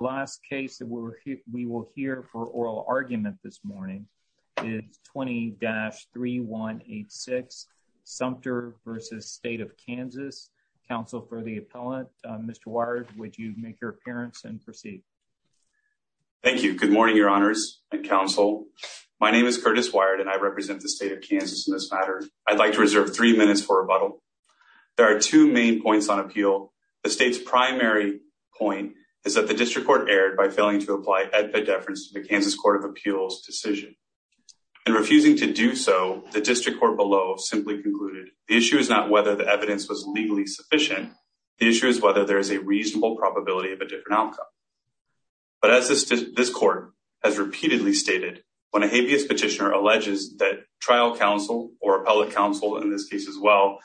The last case we will hear for oral argument this morning is 20-3186, Sumpter v. State of Kansas. Counsel for the appellant, Mr. Wired, would you make your appearance and proceed? Thank you. Good morning, Your Honors and Counsel. My name is Curtis Wired and I represent the State of Kansas in this matter. I'd like to reserve three minutes for rebuttal. There are two main points on appeal. The State's primary point is that the District Court erred by failing to apply epideference to the Kansas Court of Appeals decision. In refusing to do so, the District Court below simply concluded the issue is not whether the evidence was legally sufficient, the issue is whether there is a reasonable probability of a different outcome. But as this Court has repeatedly stated, when a habeas petitioner alleges that trial counsel or appellate counsel, in this case as well,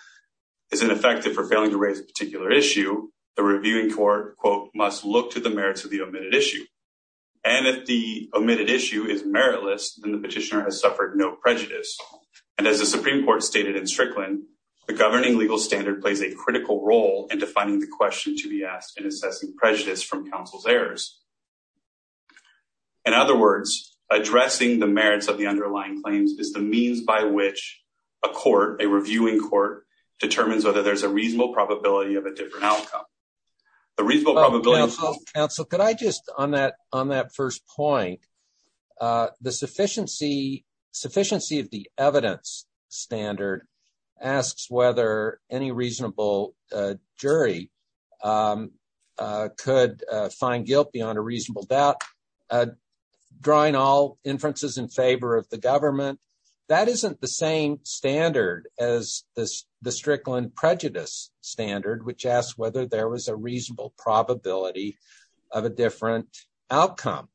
is ineffective for failing to raise a particular issue, the reviewing court, quote, must look to the merits of the omitted issue. And if the omitted issue is meritless, then the petitioner has suffered no prejudice. And as the Supreme Court stated in Strickland, the governing legal standard plays a critical role in defining the question to be asked and assessing prejudice from counsel's errors. In other words, addressing the merits of the underlying claims is the means by which a reviewing court determines whether there's a reasonable probability of a different outcome. The reasonable probability... Counsel, could I just, on that first point, the sufficiency of the evidence standard asks whether any reasonable jury could find guilt beyond a reasonable doubt, drawing all inferences in favor of the government. That isn't the same standard as the Strickland prejudice standard, which asks whether there was a reasonable probability of a different outcome.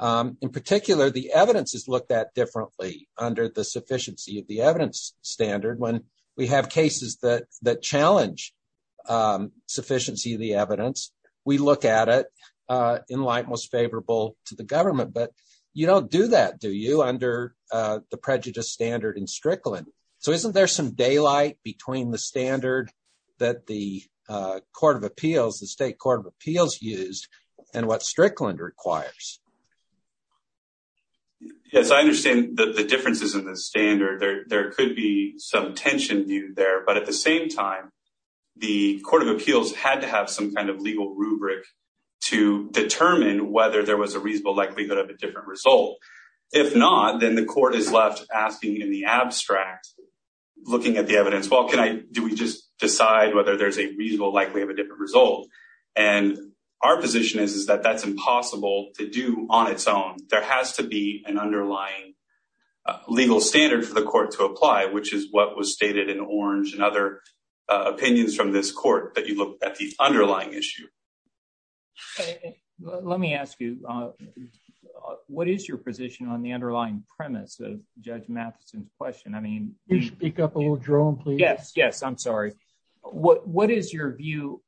In particular, the evidence is looked at differently under the sufficiency of the evidence standard. When we have cases that challenge sufficiency of the evidence, we look at it in light most favorable to the government. But you don't do that, do you, under the prejudice standard in Strickland? So isn't there some daylight between the standard that the Court of Appeals, the State Court of Appeals used and what Strickland requires? Yes, I understand the differences in the standard. There could be some tension viewed there. But at the same time, the Court of Appeals had to have some kind of legal rubric to determine whether there was a reasonable likelihood of a different result. If not, then the court is left asking in the abstract, looking at the evidence, well, do we just decide whether there's a reasonable likelihood of a different result? Our position is that that's impossible to do on its own. There has to be an underlying legal standard for the court to apply, which is what was stated in Orange and other opinions from this court, that you look at the underlying issue. Let me ask you, what is your position on the underlying premise of Judge Matheson's question? I mean, you should pick up a little drone, please. Yes, yes. I'm sorry. What is your view?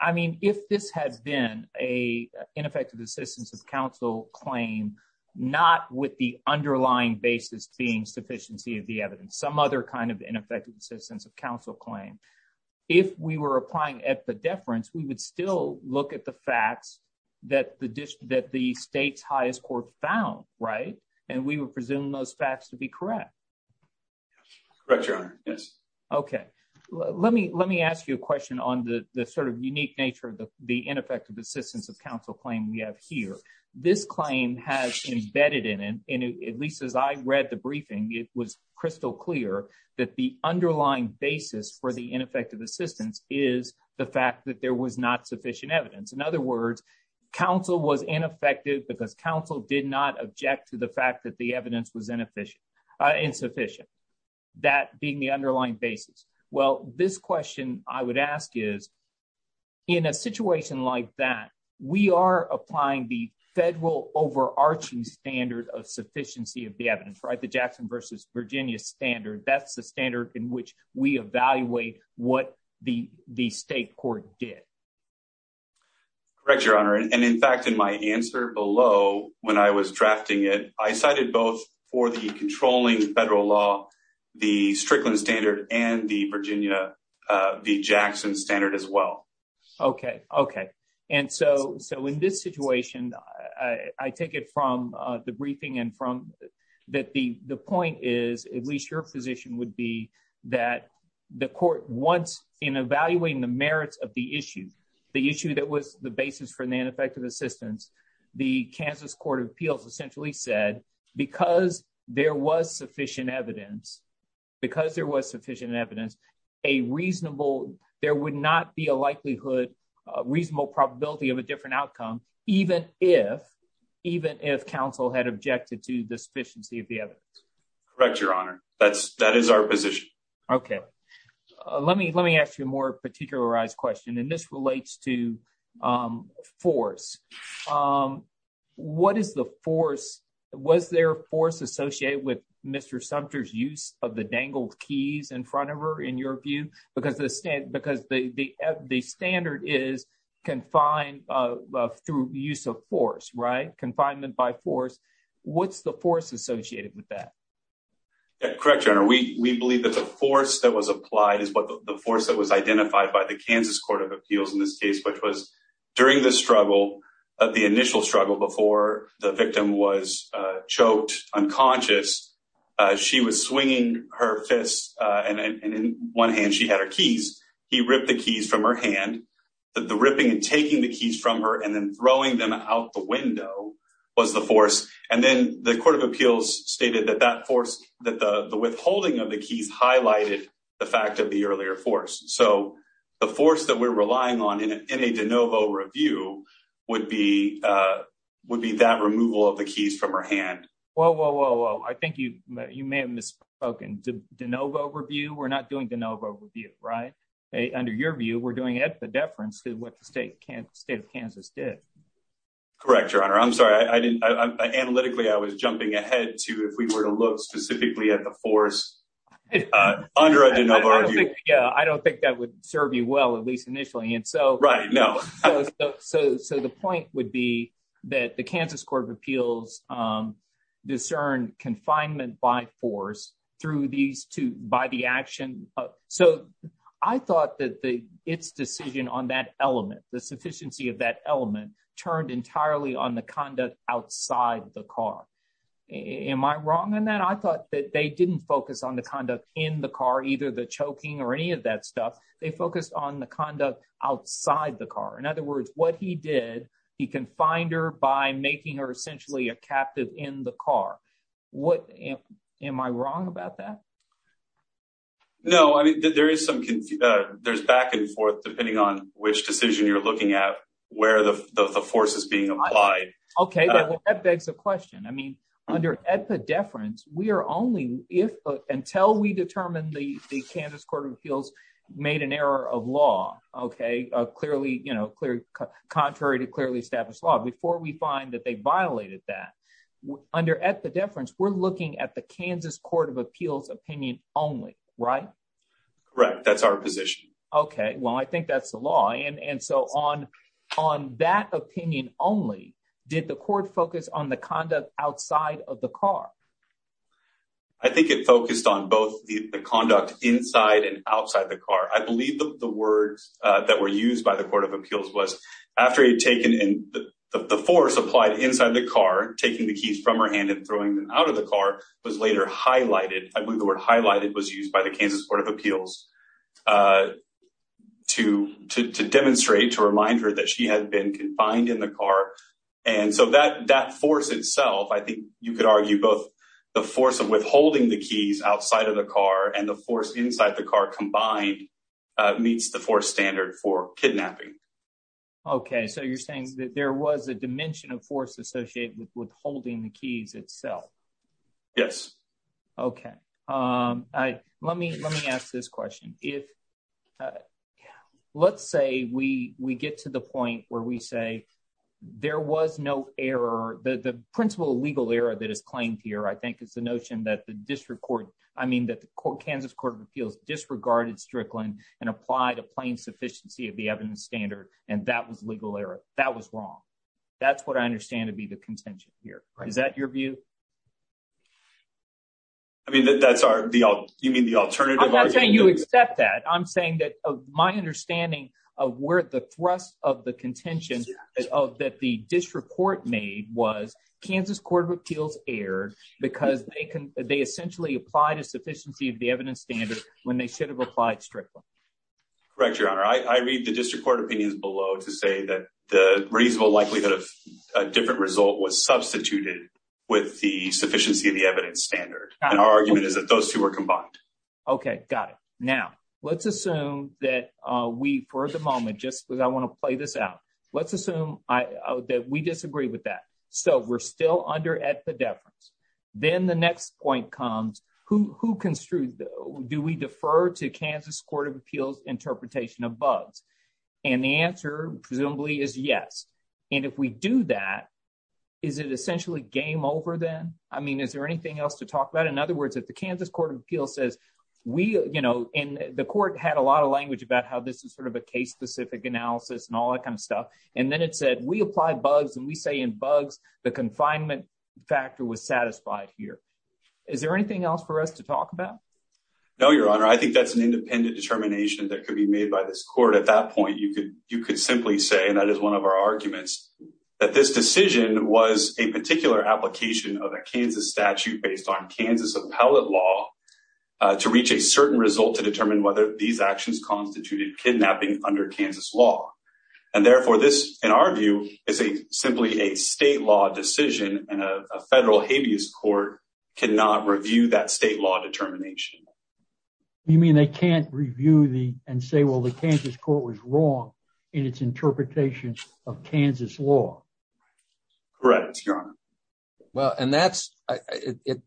I mean, if this has been a ineffective assistance of counsel claim, not with the underlying basis being sufficiency of the evidence, some other kind of ineffective assistance of counsel claim, if we were applying at the deference, we would still look at the facts that the state's highest court found, right? And we would presume those facts to be correct. Correct, Your Honor, yes. OK, let me let me ask you a question on the sort of unique nature of the ineffective assistance of counsel claim we have here. This claim has embedded in it, at least as I read the briefing, it was crystal clear that the underlying basis for the ineffective assistance is the fact that there was not sufficient evidence. In other words, counsel was ineffective because counsel did not object to the fact that the evidence was inefficient, insufficient. That being the underlying basis. Well, this question I would ask is, in a situation like that, we are applying the federal overarching standard of sufficiency of the evidence, right? The Jackson versus Virginia standard. That's the standard in which we evaluate what the the state court did. Correct, Your Honor, and in fact, in my answer below, when I was drafting it, I cited both for the controlling federal law, the Strickland standard and the Virginia, the Jackson standard as well. OK, OK. And so so in this situation, I take it from the briefing and from that the the point is, at least your position would be that the court wants in evaluating the merits of the issue, the issue that was the basis for the ineffective assistance. The Kansas Court of Appeals essentially said because there was sufficient evidence, because there was sufficient evidence, a reasonable there would not be a likelihood reasonable probability of a different outcome, even if even if counsel had objected to the sufficiency of the evidence. Correct, Your Honor. That's that is our position. OK, let me let me ask you a more particularized question. And this relates to force. What is the force? Was there force associated with Mr. Sumter's use of the dangled keys in front of her, in your view? Because the standard is confined through use of force, right? Confinement by force. What's the force associated with that? Correct, Your Honor. We believe that the force that was applied is the force that was identified by the Kansas Court of Appeals in this case, which was during the struggle, the initial struggle before the victim was choked unconscious. She was swinging her fists. And in one hand, she had her keys. He ripped the keys from her hand. The ripping and taking the keys from her and then throwing them out the window was the force. And then the Court of Appeals stated that that force, that the withholding of the keys highlighted the fact of the earlier force. So the force that we're relying on in a de novo review would be would be that removal of the keys from her hand. Whoa, whoa, whoa, whoa. I think you may have misspoken de novo review. We're not doing de novo review, right? Under your view, we're doing it at the deference to what the state of Kansas did. Correct, Your Honor. I'm sorry. I didn't. Analytically, I was jumping ahead to if we were to look specifically at the force under a de novo review. Yeah, I don't think that would serve you well, at least initially. And so right now, so so the point would be that the Kansas Court of Appeals discern confinement by force through these two by the action. So I thought that the its decision on that element, the sufficiency of that element turned entirely on the conduct outside the car. Am I wrong in that? I thought that they didn't focus on the conduct in the car, either the choking or any of that stuff. They focused on the conduct outside the car. In other words, what he did, he confined her by making her essentially a captive in the car. What am I wrong about that? No, I mean, there is some there's back and forth, depending on which decision you're looking at, where the force is being applied. OK, well, that begs the question. I mean, under the deference, we are only if until we determine the Kansas Court of made an error of law, OK, clearly, you know, clear, contrary to clearly established law before we find that they violated that under at the deference, we're looking at the Kansas Court of Appeals opinion only. Right, right. That's our position. OK, well, I think that's the law. And so on on that opinion only, did the court focus on the conduct outside of the car? I think it focused on both the conduct inside and outside the car. I believe the words that were used by the court of appeals was after he had taken the force applied inside the car, taking the keys from her hand and throwing them out of the car was later highlighted. I believe the word highlighted was used by the Kansas Court of Appeals to to demonstrate, to remind her that she had been confined in the car. And so that that force itself, I think you could argue both the force of withholding the keys outside of the car and the force inside the car combined meets the four standard for kidnapping. OK, so you're saying that there was a dimension of force associated with withholding the keys itself? Yes. OK, I let me let me ask this question. If let's say we we get to the point where we say there was no error, the principal legal error that is claimed here, I think it's the notion that the district court, I mean, that the Kansas Court of Appeals disregarded Strickland and applied a plain sufficiency of the evidence standard. And that was legal error. That was wrong. That's what I understand to be the contention here. Is that your view? I mean, that's the you mean, the alternative. I'm not saying you accept that. I'm saying that my understanding of where the thrust of the contention of that the district court made was Kansas Court of Appeals erred because they can they essentially applied a sufficiency of the evidence standard when they should have applied Strickland. Correct, Your Honor, I read the district court opinions below to say that the reasonable likelihood of a different result was substituted with the sufficiency of the evidence standard. And our argument is that those two are combined. OK, got it. Now, let's assume that we for the moment, just because I want to play this out, let's assume that we disagree with that. So we're still under at the difference. Then the next point comes, who construed do we defer to Kansas Court of Appeals interpretation of bugs? And the answer presumably is yes. And if we do that, is it essentially game over then? I mean, is there anything else to talk about? In other words, if the Kansas Court of Appeals says we and the court had a lot of language about how this is sort of a case specific analysis and all that kind of stuff. And then it said we apply bugs and we say in bugs, the confinement factor was satisfied here. Is there anything else for us to talk about? No, Your Honor, I think that's an independent determination that could be made by this court. At that point, you could you could simply say that is one of our arguments that this decision was a particular application of a Kansas statute based on Kansas appellate law to reach a certain result to determine whether these actions constituted kidnapping under Kansas law. And therefore, this, in our view, is a simply a state law decision. And a federal habeas court cannot review that state law determination. You mean they can't review the and say, well, the Kansas court was wrong in its interpretation of Kansas law. Correct. Well, and that's it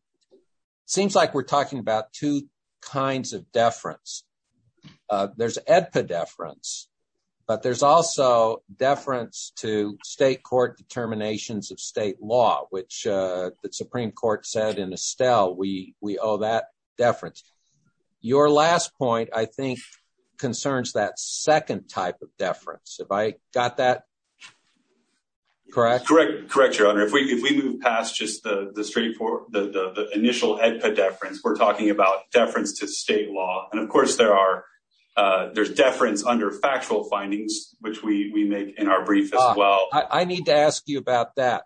seems like we're talking about two kinds of deference. There's a deference, but there's also deference to state court determinations of state law, which the Supreme Court said in Estelle, we we owe that deference. Your last point, I think, concerns that second type of deference. If I got that. Correct, correct, correct, Your Honor, if we if we move past just the straight for the initial head for deference, we're talking about deference to state law. And of course, there are there's deference under factual findings, which we make in our brief as well. I need to ask you about that.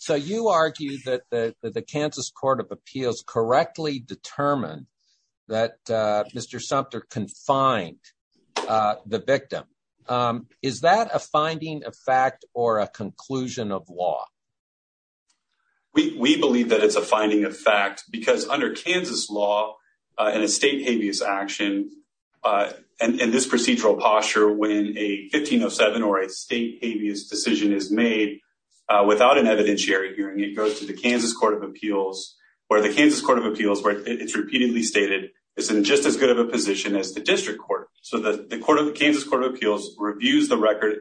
So you argue that the Kansas Court of Appeals correctly determined that Mr. Sumpter confined the victim. Is that a finding of fact or a conclusion of law? We believe that it's a finding of fact, because under Kansas law and a state habeas action and this procedural posture, when a 15 or seven or a state habeas decision is made without an evidentiary hearing, it goes to the Kansas Court of Appeals or the district court. So the Kansas Court of Appeals reviews the record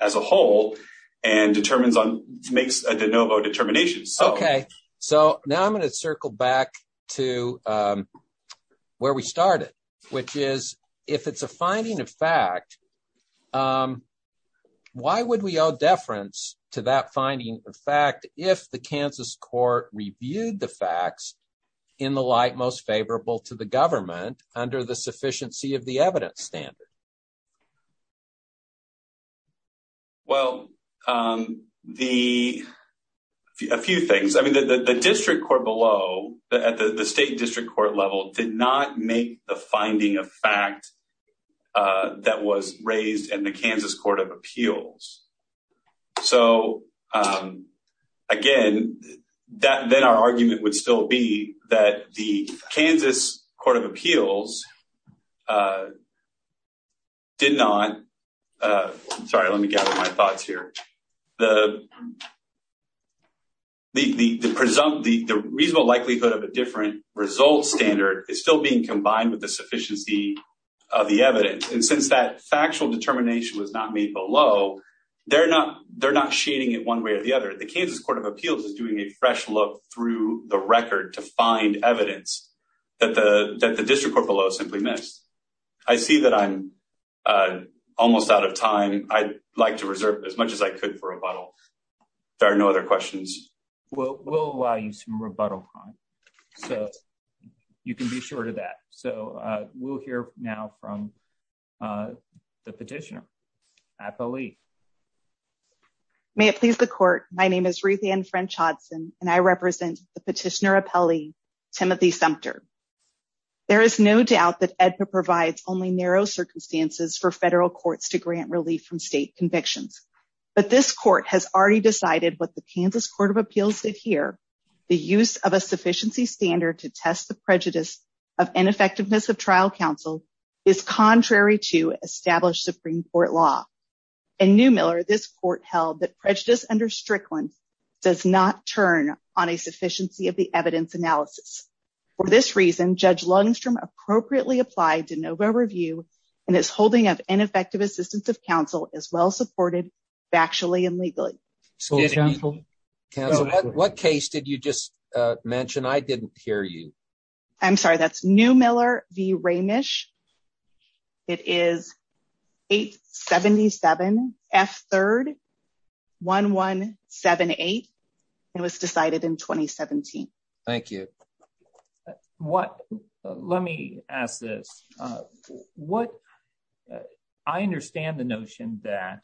as a whole and determines on makes a de novo determination. OK, so now I'm going to circle back to where we started, which is if it's a finding of fact, why would we owe deference to that finding of fact if the Kansas court reviewed the facts in the light most favorable to the government under the sufficiency of the evidence standard? Well, the few things I mean, the district court below at the state district court level did not make the finding of fact that was raised in the Kansas Court of Appeals. And then our argument would still be that the Kansas Court of Appeals. Did not. Sorry, let me gather my thoughts here. The. The presumptive, the reasonable likelihood of a different result standard is still being combined with the sufficiency of the evidence, and since that factual determination was not made below, they're not they're not shading it one way or the other. The Kansas Court of Appeals is doing a fresh look through the record to find evidence that the that the district court below simply missed. I see that I'm almost out of time. I'd like to reserve as much as I could for a bottle. There are no other questions. Well, we'll allow you some rebuttal time so you can be sure to that. So we'll hear now from the petitioner. At the. May it please the court. My name is Ruthanne French Hudson, and I represent the petitioner appellee Timothy Sumter. There is no doubt that Edna provides only narrow circumstances for federal courts to grant relief from state convictions, but this court has already decided what the Kansas Court of Appeals did here. The use of a sufficiency standard to test the prejudice of ineffectiveness of trial counsel is contrary to established Supreme Court law. And Neumiller, this court held that prejudice under Strickland does not turn on a sufficiency of the evidence analysis. For this reason, Judge Lundstrom appropriately applied to Novo Review and is holding up ineffective assistance of counsel as well supported factually and legally. So counsel, what case did you just mention? I didn't hear you. I'm sorry, that's Neumiller v. F. Third one one seven eight. It was decided in twenty seventeen. Thank you. What let me ask this, what I understand the notion that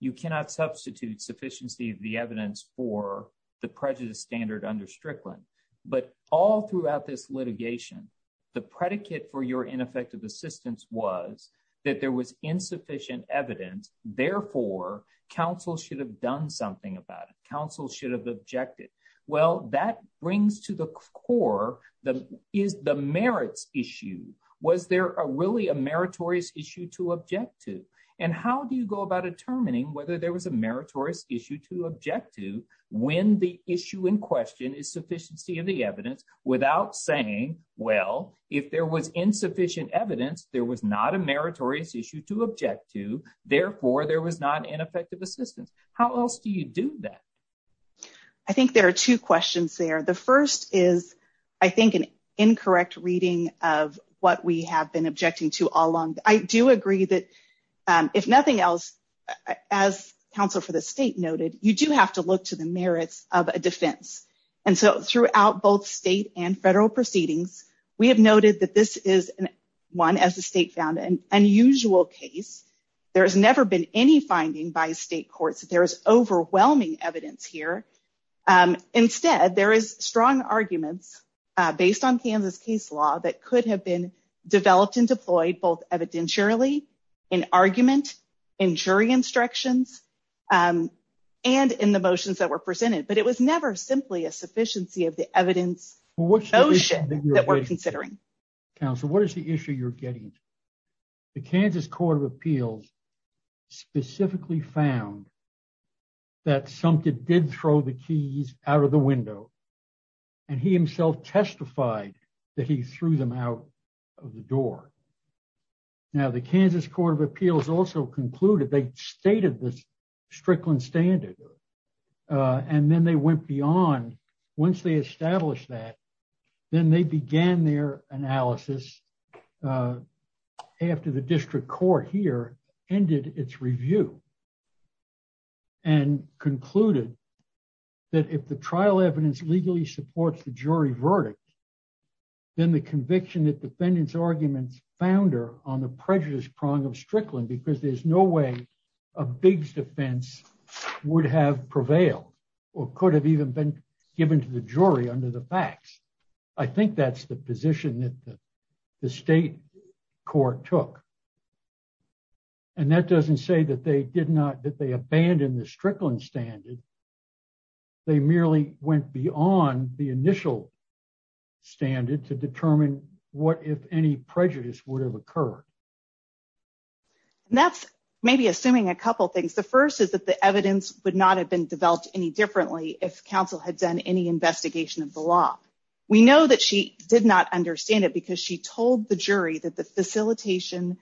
you cannot substitute sufficiency of the evidence for the prejudice standard under Strickland. But all throughout this litigation, the predicate for your ineffective assistance was that there was insufficient evidence. Therefore, counsel should have done something about it. Counsel should have objected. Well, that brings to the core that is the merits issue. Was there really a meritorious issue to object to? And how do you go about determining whether there was a meritorious issue to object to when the issue in question is sufficiency of the evidence without saying, well, if there was insufficient evidence, there was not a meritorious issue to object to. Therefore, there was not an effective assistance. How else do you do that? I think there are two questions there. The first is, I think, an incorrect reading of what we have been objecting to all along. I do agree that if nothing else, as counsel for the state noted, you do have to look to the merits of a defense. And so throughout both state and federal proceedings, we have noted that this is one, as the state found, an unusual case. There has never been any finding by state courts that there is overwhelming evidence here. Instead, there is strong arguments based on Kansas case law that could have been developed and deployed both evidentially in argument, in jury instructions and in the sufficiency of the evidence that we're considering. Counsel, what is the issue you're getting? The Kansas Court of Appeals specifically found. That something did throw the keys out of the window and he himself testified that he threw them out of the door. Now, the Kansas Court of Appeals also concluded they stated this Strickland standard and then they went beyond once they established that, then they began their analysis after the district court here ended its review. And concluded that if the trial evidence legally supports the jury verdict. Then the conviction that defendants arguments founder on the prejudice prong of Strickland, because there's no way a big defense would have prevailed or could have even been given to the jury under the facts. I think that's the position that the state court took. And that doesn't say that they did not, that they abandoned the Strickland standard. They merely went beyond the initial standard to determine what, if any, prejudice would have occurred. That's maybe assuming a couple of things. The first is that the evidence would not have been developed any differently if counsel had done any investigation of the law. We know that she did not understand it because she told the jury that the facilitation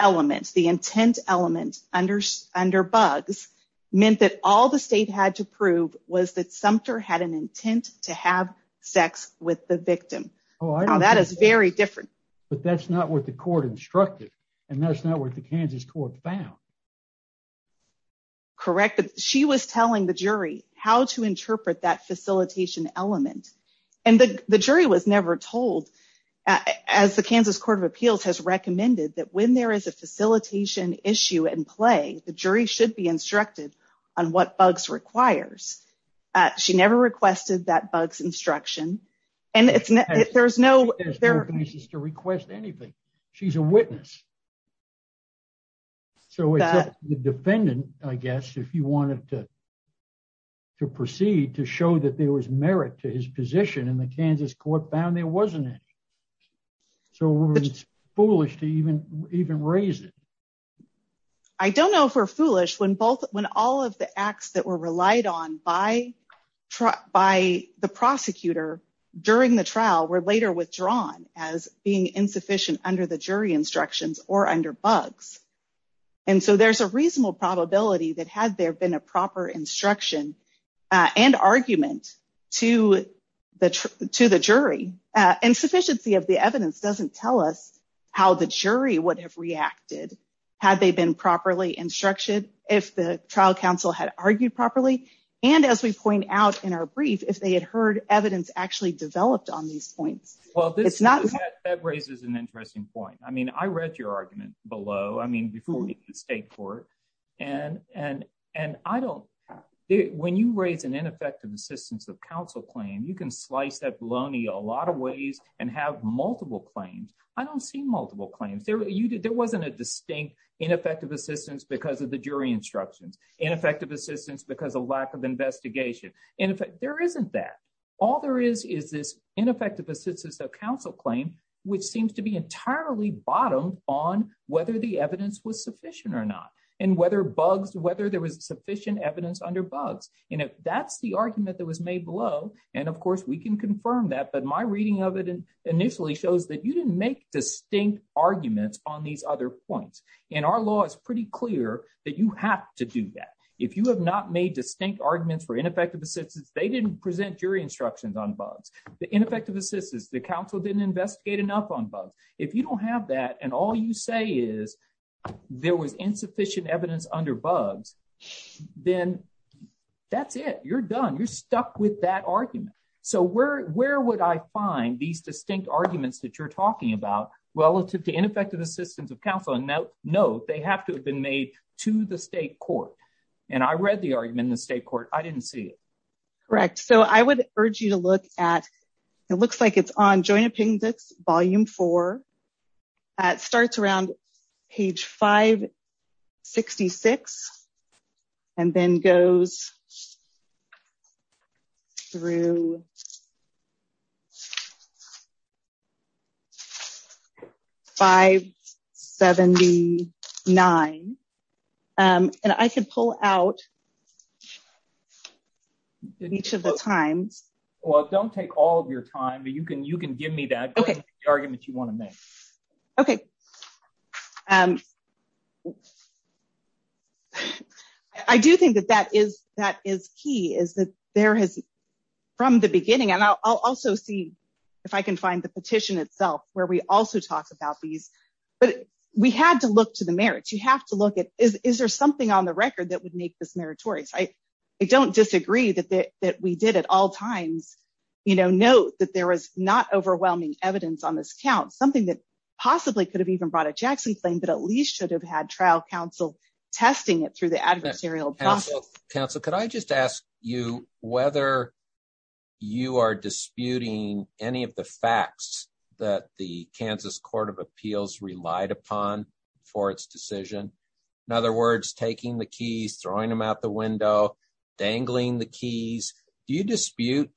elements, the intent element under Buggs, meant that all the state had to prove was that Sumter had an intent to have sex with the victim. Oh, that is very different. But that's not what the court instructed. And that's not what the Kansas court found. Correct. She was telling the jury how to interpret that facilitation element. And the jury was never told, as the Kansas Court of Appeals has recommended, that when there is a facilitation issue in play, the jury should be instructed on what Buggs requires. She never requested that Buggs instruction. And there's no... She has no basis to request anything. She's a witness. So it's up to the defendant, I guess, if you wanted to proceed to show that there was merit to his position and the Kansas court found there wasn't it. So it's foolish to even raise it. I don't know if we're foolish when all of the acts that were relied on by the prosecutor during the trial were later withdrawn as being insufficient under the jury instructions or under Buggs. And so there's a reasonable probability that had there been a proper instruction and argument to the jury, insufficiency of the evidence doesn't tell us how the jury would have reacted had they been properly instructed, if the trial counsel had argued properly. And as we point out in our brief, if they had heard evidence actually developed on these points. Well, that raises an interesting point. I mean, I read your argument below. I mean, before we get to the state court. And I don't... When you raise an ineffective assistance of counsel claim, you can slice that bologna a lot of ways and have multiple claims. I don't see multiple claims. There wasn't a distinct ineffective assistance because of the jury instructions. Ineffective assistance because of lack of investigation. And there isn't that. All there is, is this ineffective assistance of counsel claim, which seems to be entirely bottomed on whether the evidence was sufficient or not and whether Buggs, whether there was sufficient evidence under Buggs. And if that's the argument that was made below. And of course, we can confirm that. But my reading of it initially shows that you didn't make distinct arguments on these other points. And our law is pretty clear that you have to do that. If you have not made distinct arguments for ineffective assistance, they didn't present jury instructions on Buggs, the ineffective assistance, the counsel didn't investigate enough on Buggs. If you don't have that and all you say is there was insufficient evidence under Buggs, then that's it. You're done. You're stuck with that argument. So where where would I find these distinct arguments that you're talking about relative to ineffective assistance of counsel? And now, no, they have to have been made to the state court. And I read the argument in the state court. I didn't see it. Correct. So I would urge you to look at it looks like it's on joint opinion. That's volume four. It starts around page 566 and then goes. Through. Five, seventy nine, and I could pull out. Each of the times. Well, don't take all of your time, but you can you can give me that argument you want to OK. I do think that that is that is key is that there has from the beginning and I'll also see if I can find the petition itself where we also talk about these. But we had to look to the merits. You have to look at is there something on the record that would make this meritorious? I don't disagree that that we did at all times, you know, note that there is not something that possibly could have even brought a Jackson claim, but at least should have had trial counsel testing it through the adversarial counsel. Could I just ask you whether you are disputing any of the facts that the Kansas Court of Appeals relied upon for its decision? In other words, taking the keys, throwing them out the window, dangling the keys. Do you dispute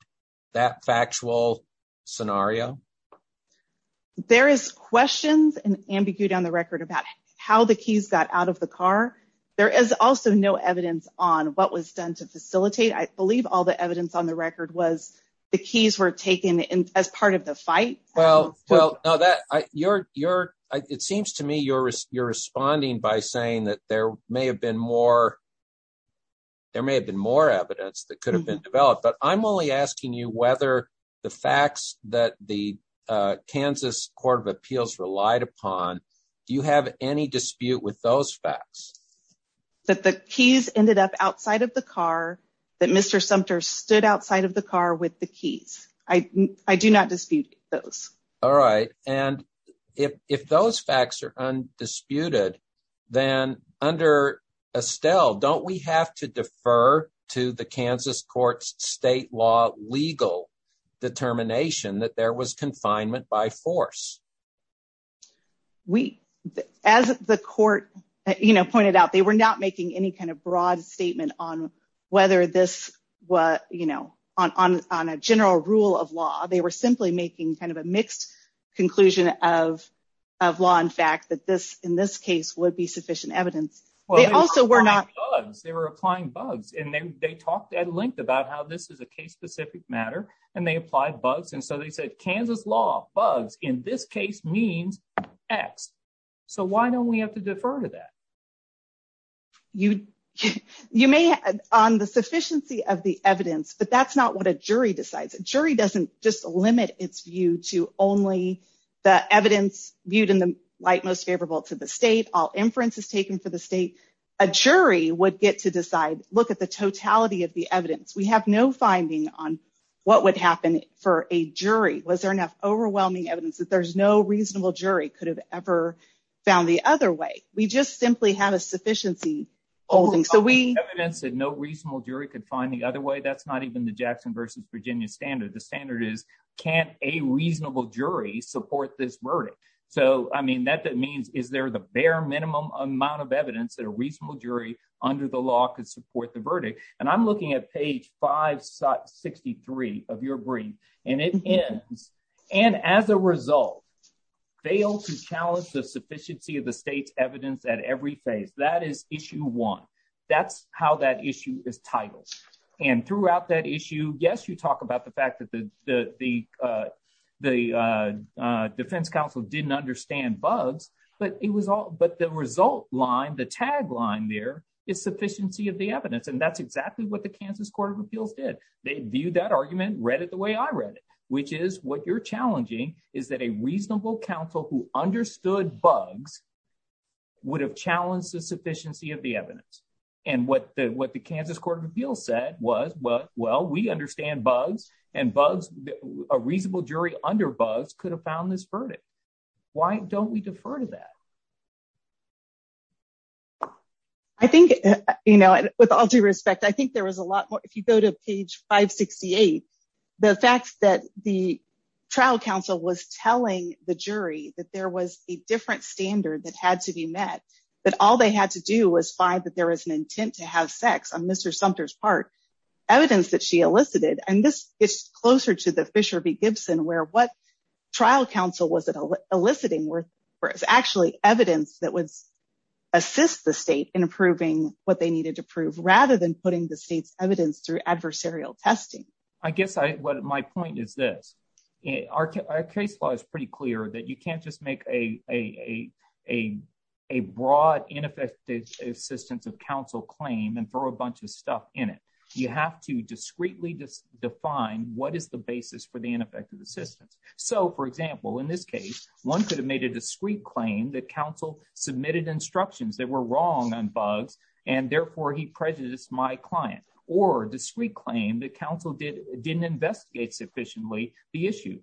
that factual scenario? There is questions and ambiguity on the record about how the keys got out of the car. There is also no evidence on what was done to facilitate. I believe all the evidence on the record was the keys were taken as part of the fight. Well, well, now that you're you're it seems to me you're you're responding by saying that there may have been more. There may have been more evidence that could have been developed, but I'm only asking you whether the facts that the Kansas Court of Appeals relied upon. Do you have any dispute with those facts that the keys ended up outside of the car, that Mr. Sumter stood outside of the car with the keys? I do not dispute those. All right. And if those facts are undisputed, then under Estelle, don't we have to defer to the Kansas court's state law legal determination that there was confinement by force? We as the court pointed out, they were not making any kind of broad statement on whether this was on a general rule of law. They were simply making kind of a mixed conclusion of of law. In fact, that this in this case would be sufficient evidence. Well, they also were not they were applying bugs and they talked at length about how this is a case specific matter and they applied bugs. And so they said Kansas law bugs in this case means X. So why don't we have to defer to that? You you may on the sufficiency of the evidence, but that's not what a jury decides, a jury doesn't just limit its view to only the evidence viewed in the light most favorable to the state. All inference is taken for the state. A jury would get to decide. Look at the totality of the evidence. We have no finding on what would happen for a jury. Was there enough overwhelming evidence that there's no reasonable jury could have ever found the other way? We just simply have a sufficiency holding. So we have evidence that no reasonable jury could find the other way. That's not even the Jackson versus Virginia standard. The standard is can't a reasonable jury support this verdict? So, I mean, that that means is there the bare minimum amount of evidence that a reasonable jury under the law could support the verdict? And I'm looking at page 563 of your brief, and it is and as a result, fail to challenge the sufficiency of the state's evidence at every phase. That is issue one. That's how that issue is titled. And throughout that issue, yes, you talk about the fact that the the the defense counsel didn't understand bugs, but it was all but the result line, the tagline there is sufficiency of the evidence. And that's exactly what the Kansas Court of Appeals did. They viewed that argument, read it the way I read it, which is what you're challenging is that a reasonable counsel who understood bugs. Would have challenged the sufficiency of the evidence and what the what the Kansas Court of Appeals said was, well, we understand bugs and bugs. A reasonable jury under bugs could have found this verdict. Why don't we defer to that? I think, you know, with all due respect, I think there was a lot more if you go to page 568, the fact that the trial counsel was telling the jury that there was a different standard that had to be met, that all they had to do was find that there is an intent to have sex on Mr. Sumpter's part, evidence that she elicited. And this is closer to the Fisher v. Gibson, where what trial counsel was eliciting was actually evidence that would assist the state in approving what they needed to prove rather than putting the state's evidence through adversarial testing. I guess what my point is, this is our case law is pretty clear that you can't just make a a a a a broad ineffective assistance of counsel claim and throw a bunch of stuff in it. You have to discreetly define what is the basis for the ineffective assistance. So, for example, in this case, one could have made a discreet claim that counsel submitted instructions that were wrong on bugs and therefore he prejudiced my client or discreet claim that counsel did didn't investigate sufficiently the issue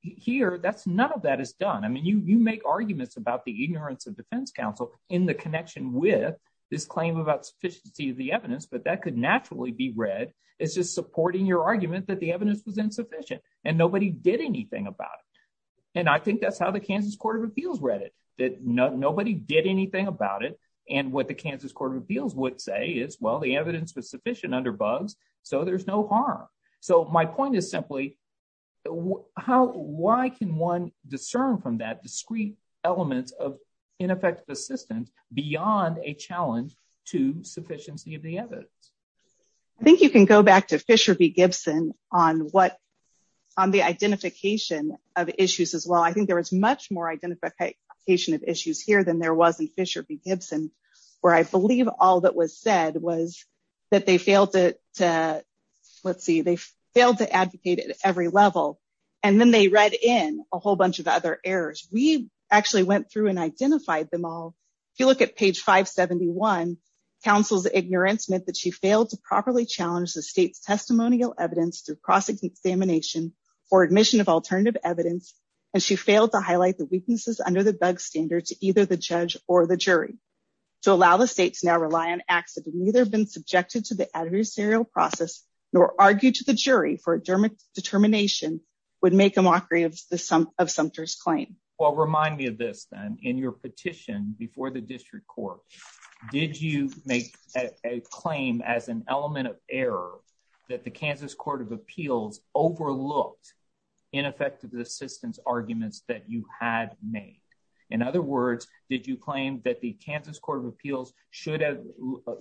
here. That's none of that is done. I mean, you make arguments about the ignorance of defense counsel in the connection with this claim about sufficiency of the evidence. But that could naturally be read as just supporting your argument that the evidence was insufficient and nobody did anything about it. And I think that's how the Kansas Court of Appeals read it, that nobody did anything about it. And what the Kansas Court of Appeals would say is, well, the evidence was sufficient under bugs, so there's no harm. So my point is simply how why can one discern from that discreet elements of ineffective assistance beyond a challenge to sufficiency of the evidence? I think you can go back to Fisher v. Gibson on what on the identification of issues as well. I think there is much more identification of issues here than there was in Fisher v. Gibson. They failed to advocate at every level and then they read in a whole bunch of other errors. We actually went through and identified them all. If you look at page 571, counsel's ignorance meant that she failed to properly challenge the state's testimonial evidence through cross-examination for admission of alternative evidence. And she failed to highlight the weaknesses under the bug standard to either the judge or the jury to allow the states now rely on acts that have neither been subjected to the serial process nor argue to the jury for a determination would make a mockery of the sum of Sumter's claim. Well, remind me of this then in your petition before the district court, did you make a claim as an element of error that the Kansas Court of Appeals overlooked ineffective assistance arguments that you had made? In other words, did you claim that the Kansas Court of Appeals should have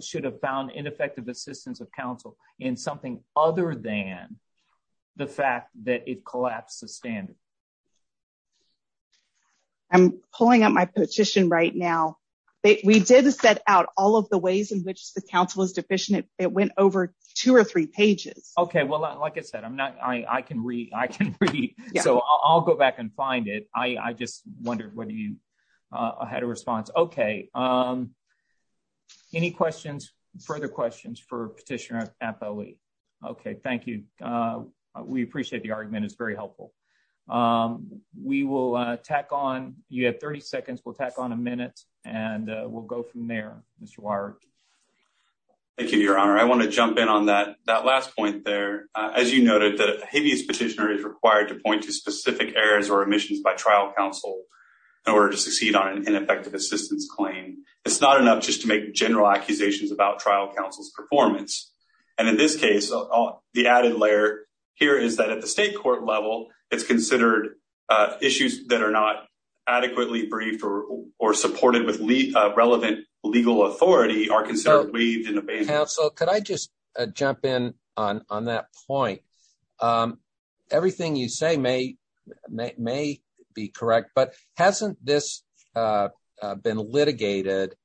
should have found ineffective assistance of counsel in something other than the fact that it collapsed the standard? I'm pulling up my petition right now, but we did set out all of the ways in which the counsel is deficient. It went over two or three pages. OK, well, like I said, I'm not I can read. I can read. So I'll go back and find it. I just wondered whether you had a response. OK, any questions, further questions for petitioner at the week? OK, thank you. We appreciate the argument. It's very helpful. We will tack on. You have 30 seconds. We'll tack on a minute and we'll go from there, Mr. Wire. Thank you, Your Honor, I want to jump in on that that last point there, as you noted, the heaviest petitioner is required to point to specific errors or omissions by trial counsel in order to succeed on an ineffective assistance claim. It's not enough just to make general accusations about trial counsel's performance. And in this case, the added layer here is that at the state court level, it's considered issues that are not adequately briefed or or supported with relevant legal authority are considered waived and obeyed. Counsel, could I just jump in on that point? Everything you say may may be correct, but hasn't this been litigated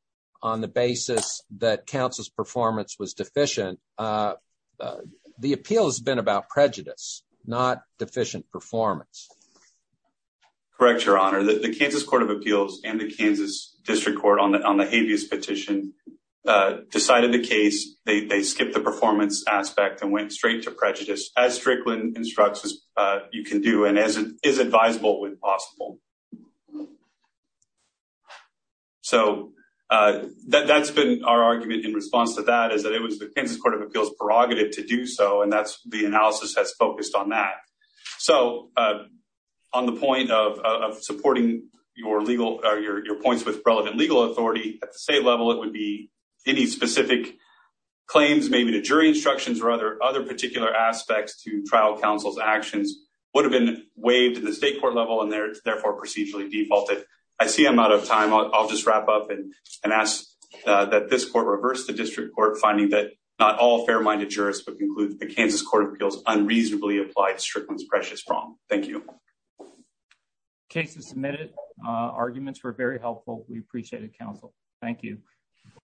on the basis that counsel's performance was deficient? The appeal has been about prejudice, not deficient performance. Correct, Your Honor, that the Kansas Court of Appeals and the Kansas District Court on the on the habeas petition decided the case. They skipped the performance aspect and went straight to prejudice, as Strickland instructs, as you can do and as is advisable when possible. So that's been our argument in response to that is that it was the Kansas Court of Appeals prerogative to do so, and that's the analysis has focused on that. So on the point of supporting your legal or your points with relevant legal authority at the state level, it would be any specific claims, maybe the jury instructions or other other particular aspects to trial. Counsel's actions would have been waived in the state court level and therefore procedurally defaulted. I see I'm out of time. I'll just wrap up and ask that this court reverse the district court finding that not all fair minded jurists would conclude the Kansas Court of Appeals unreasonably applied. Strickland's precious wrong. Cases submitted, arguments were very helpful. We appreciate it, counsel. Thank you.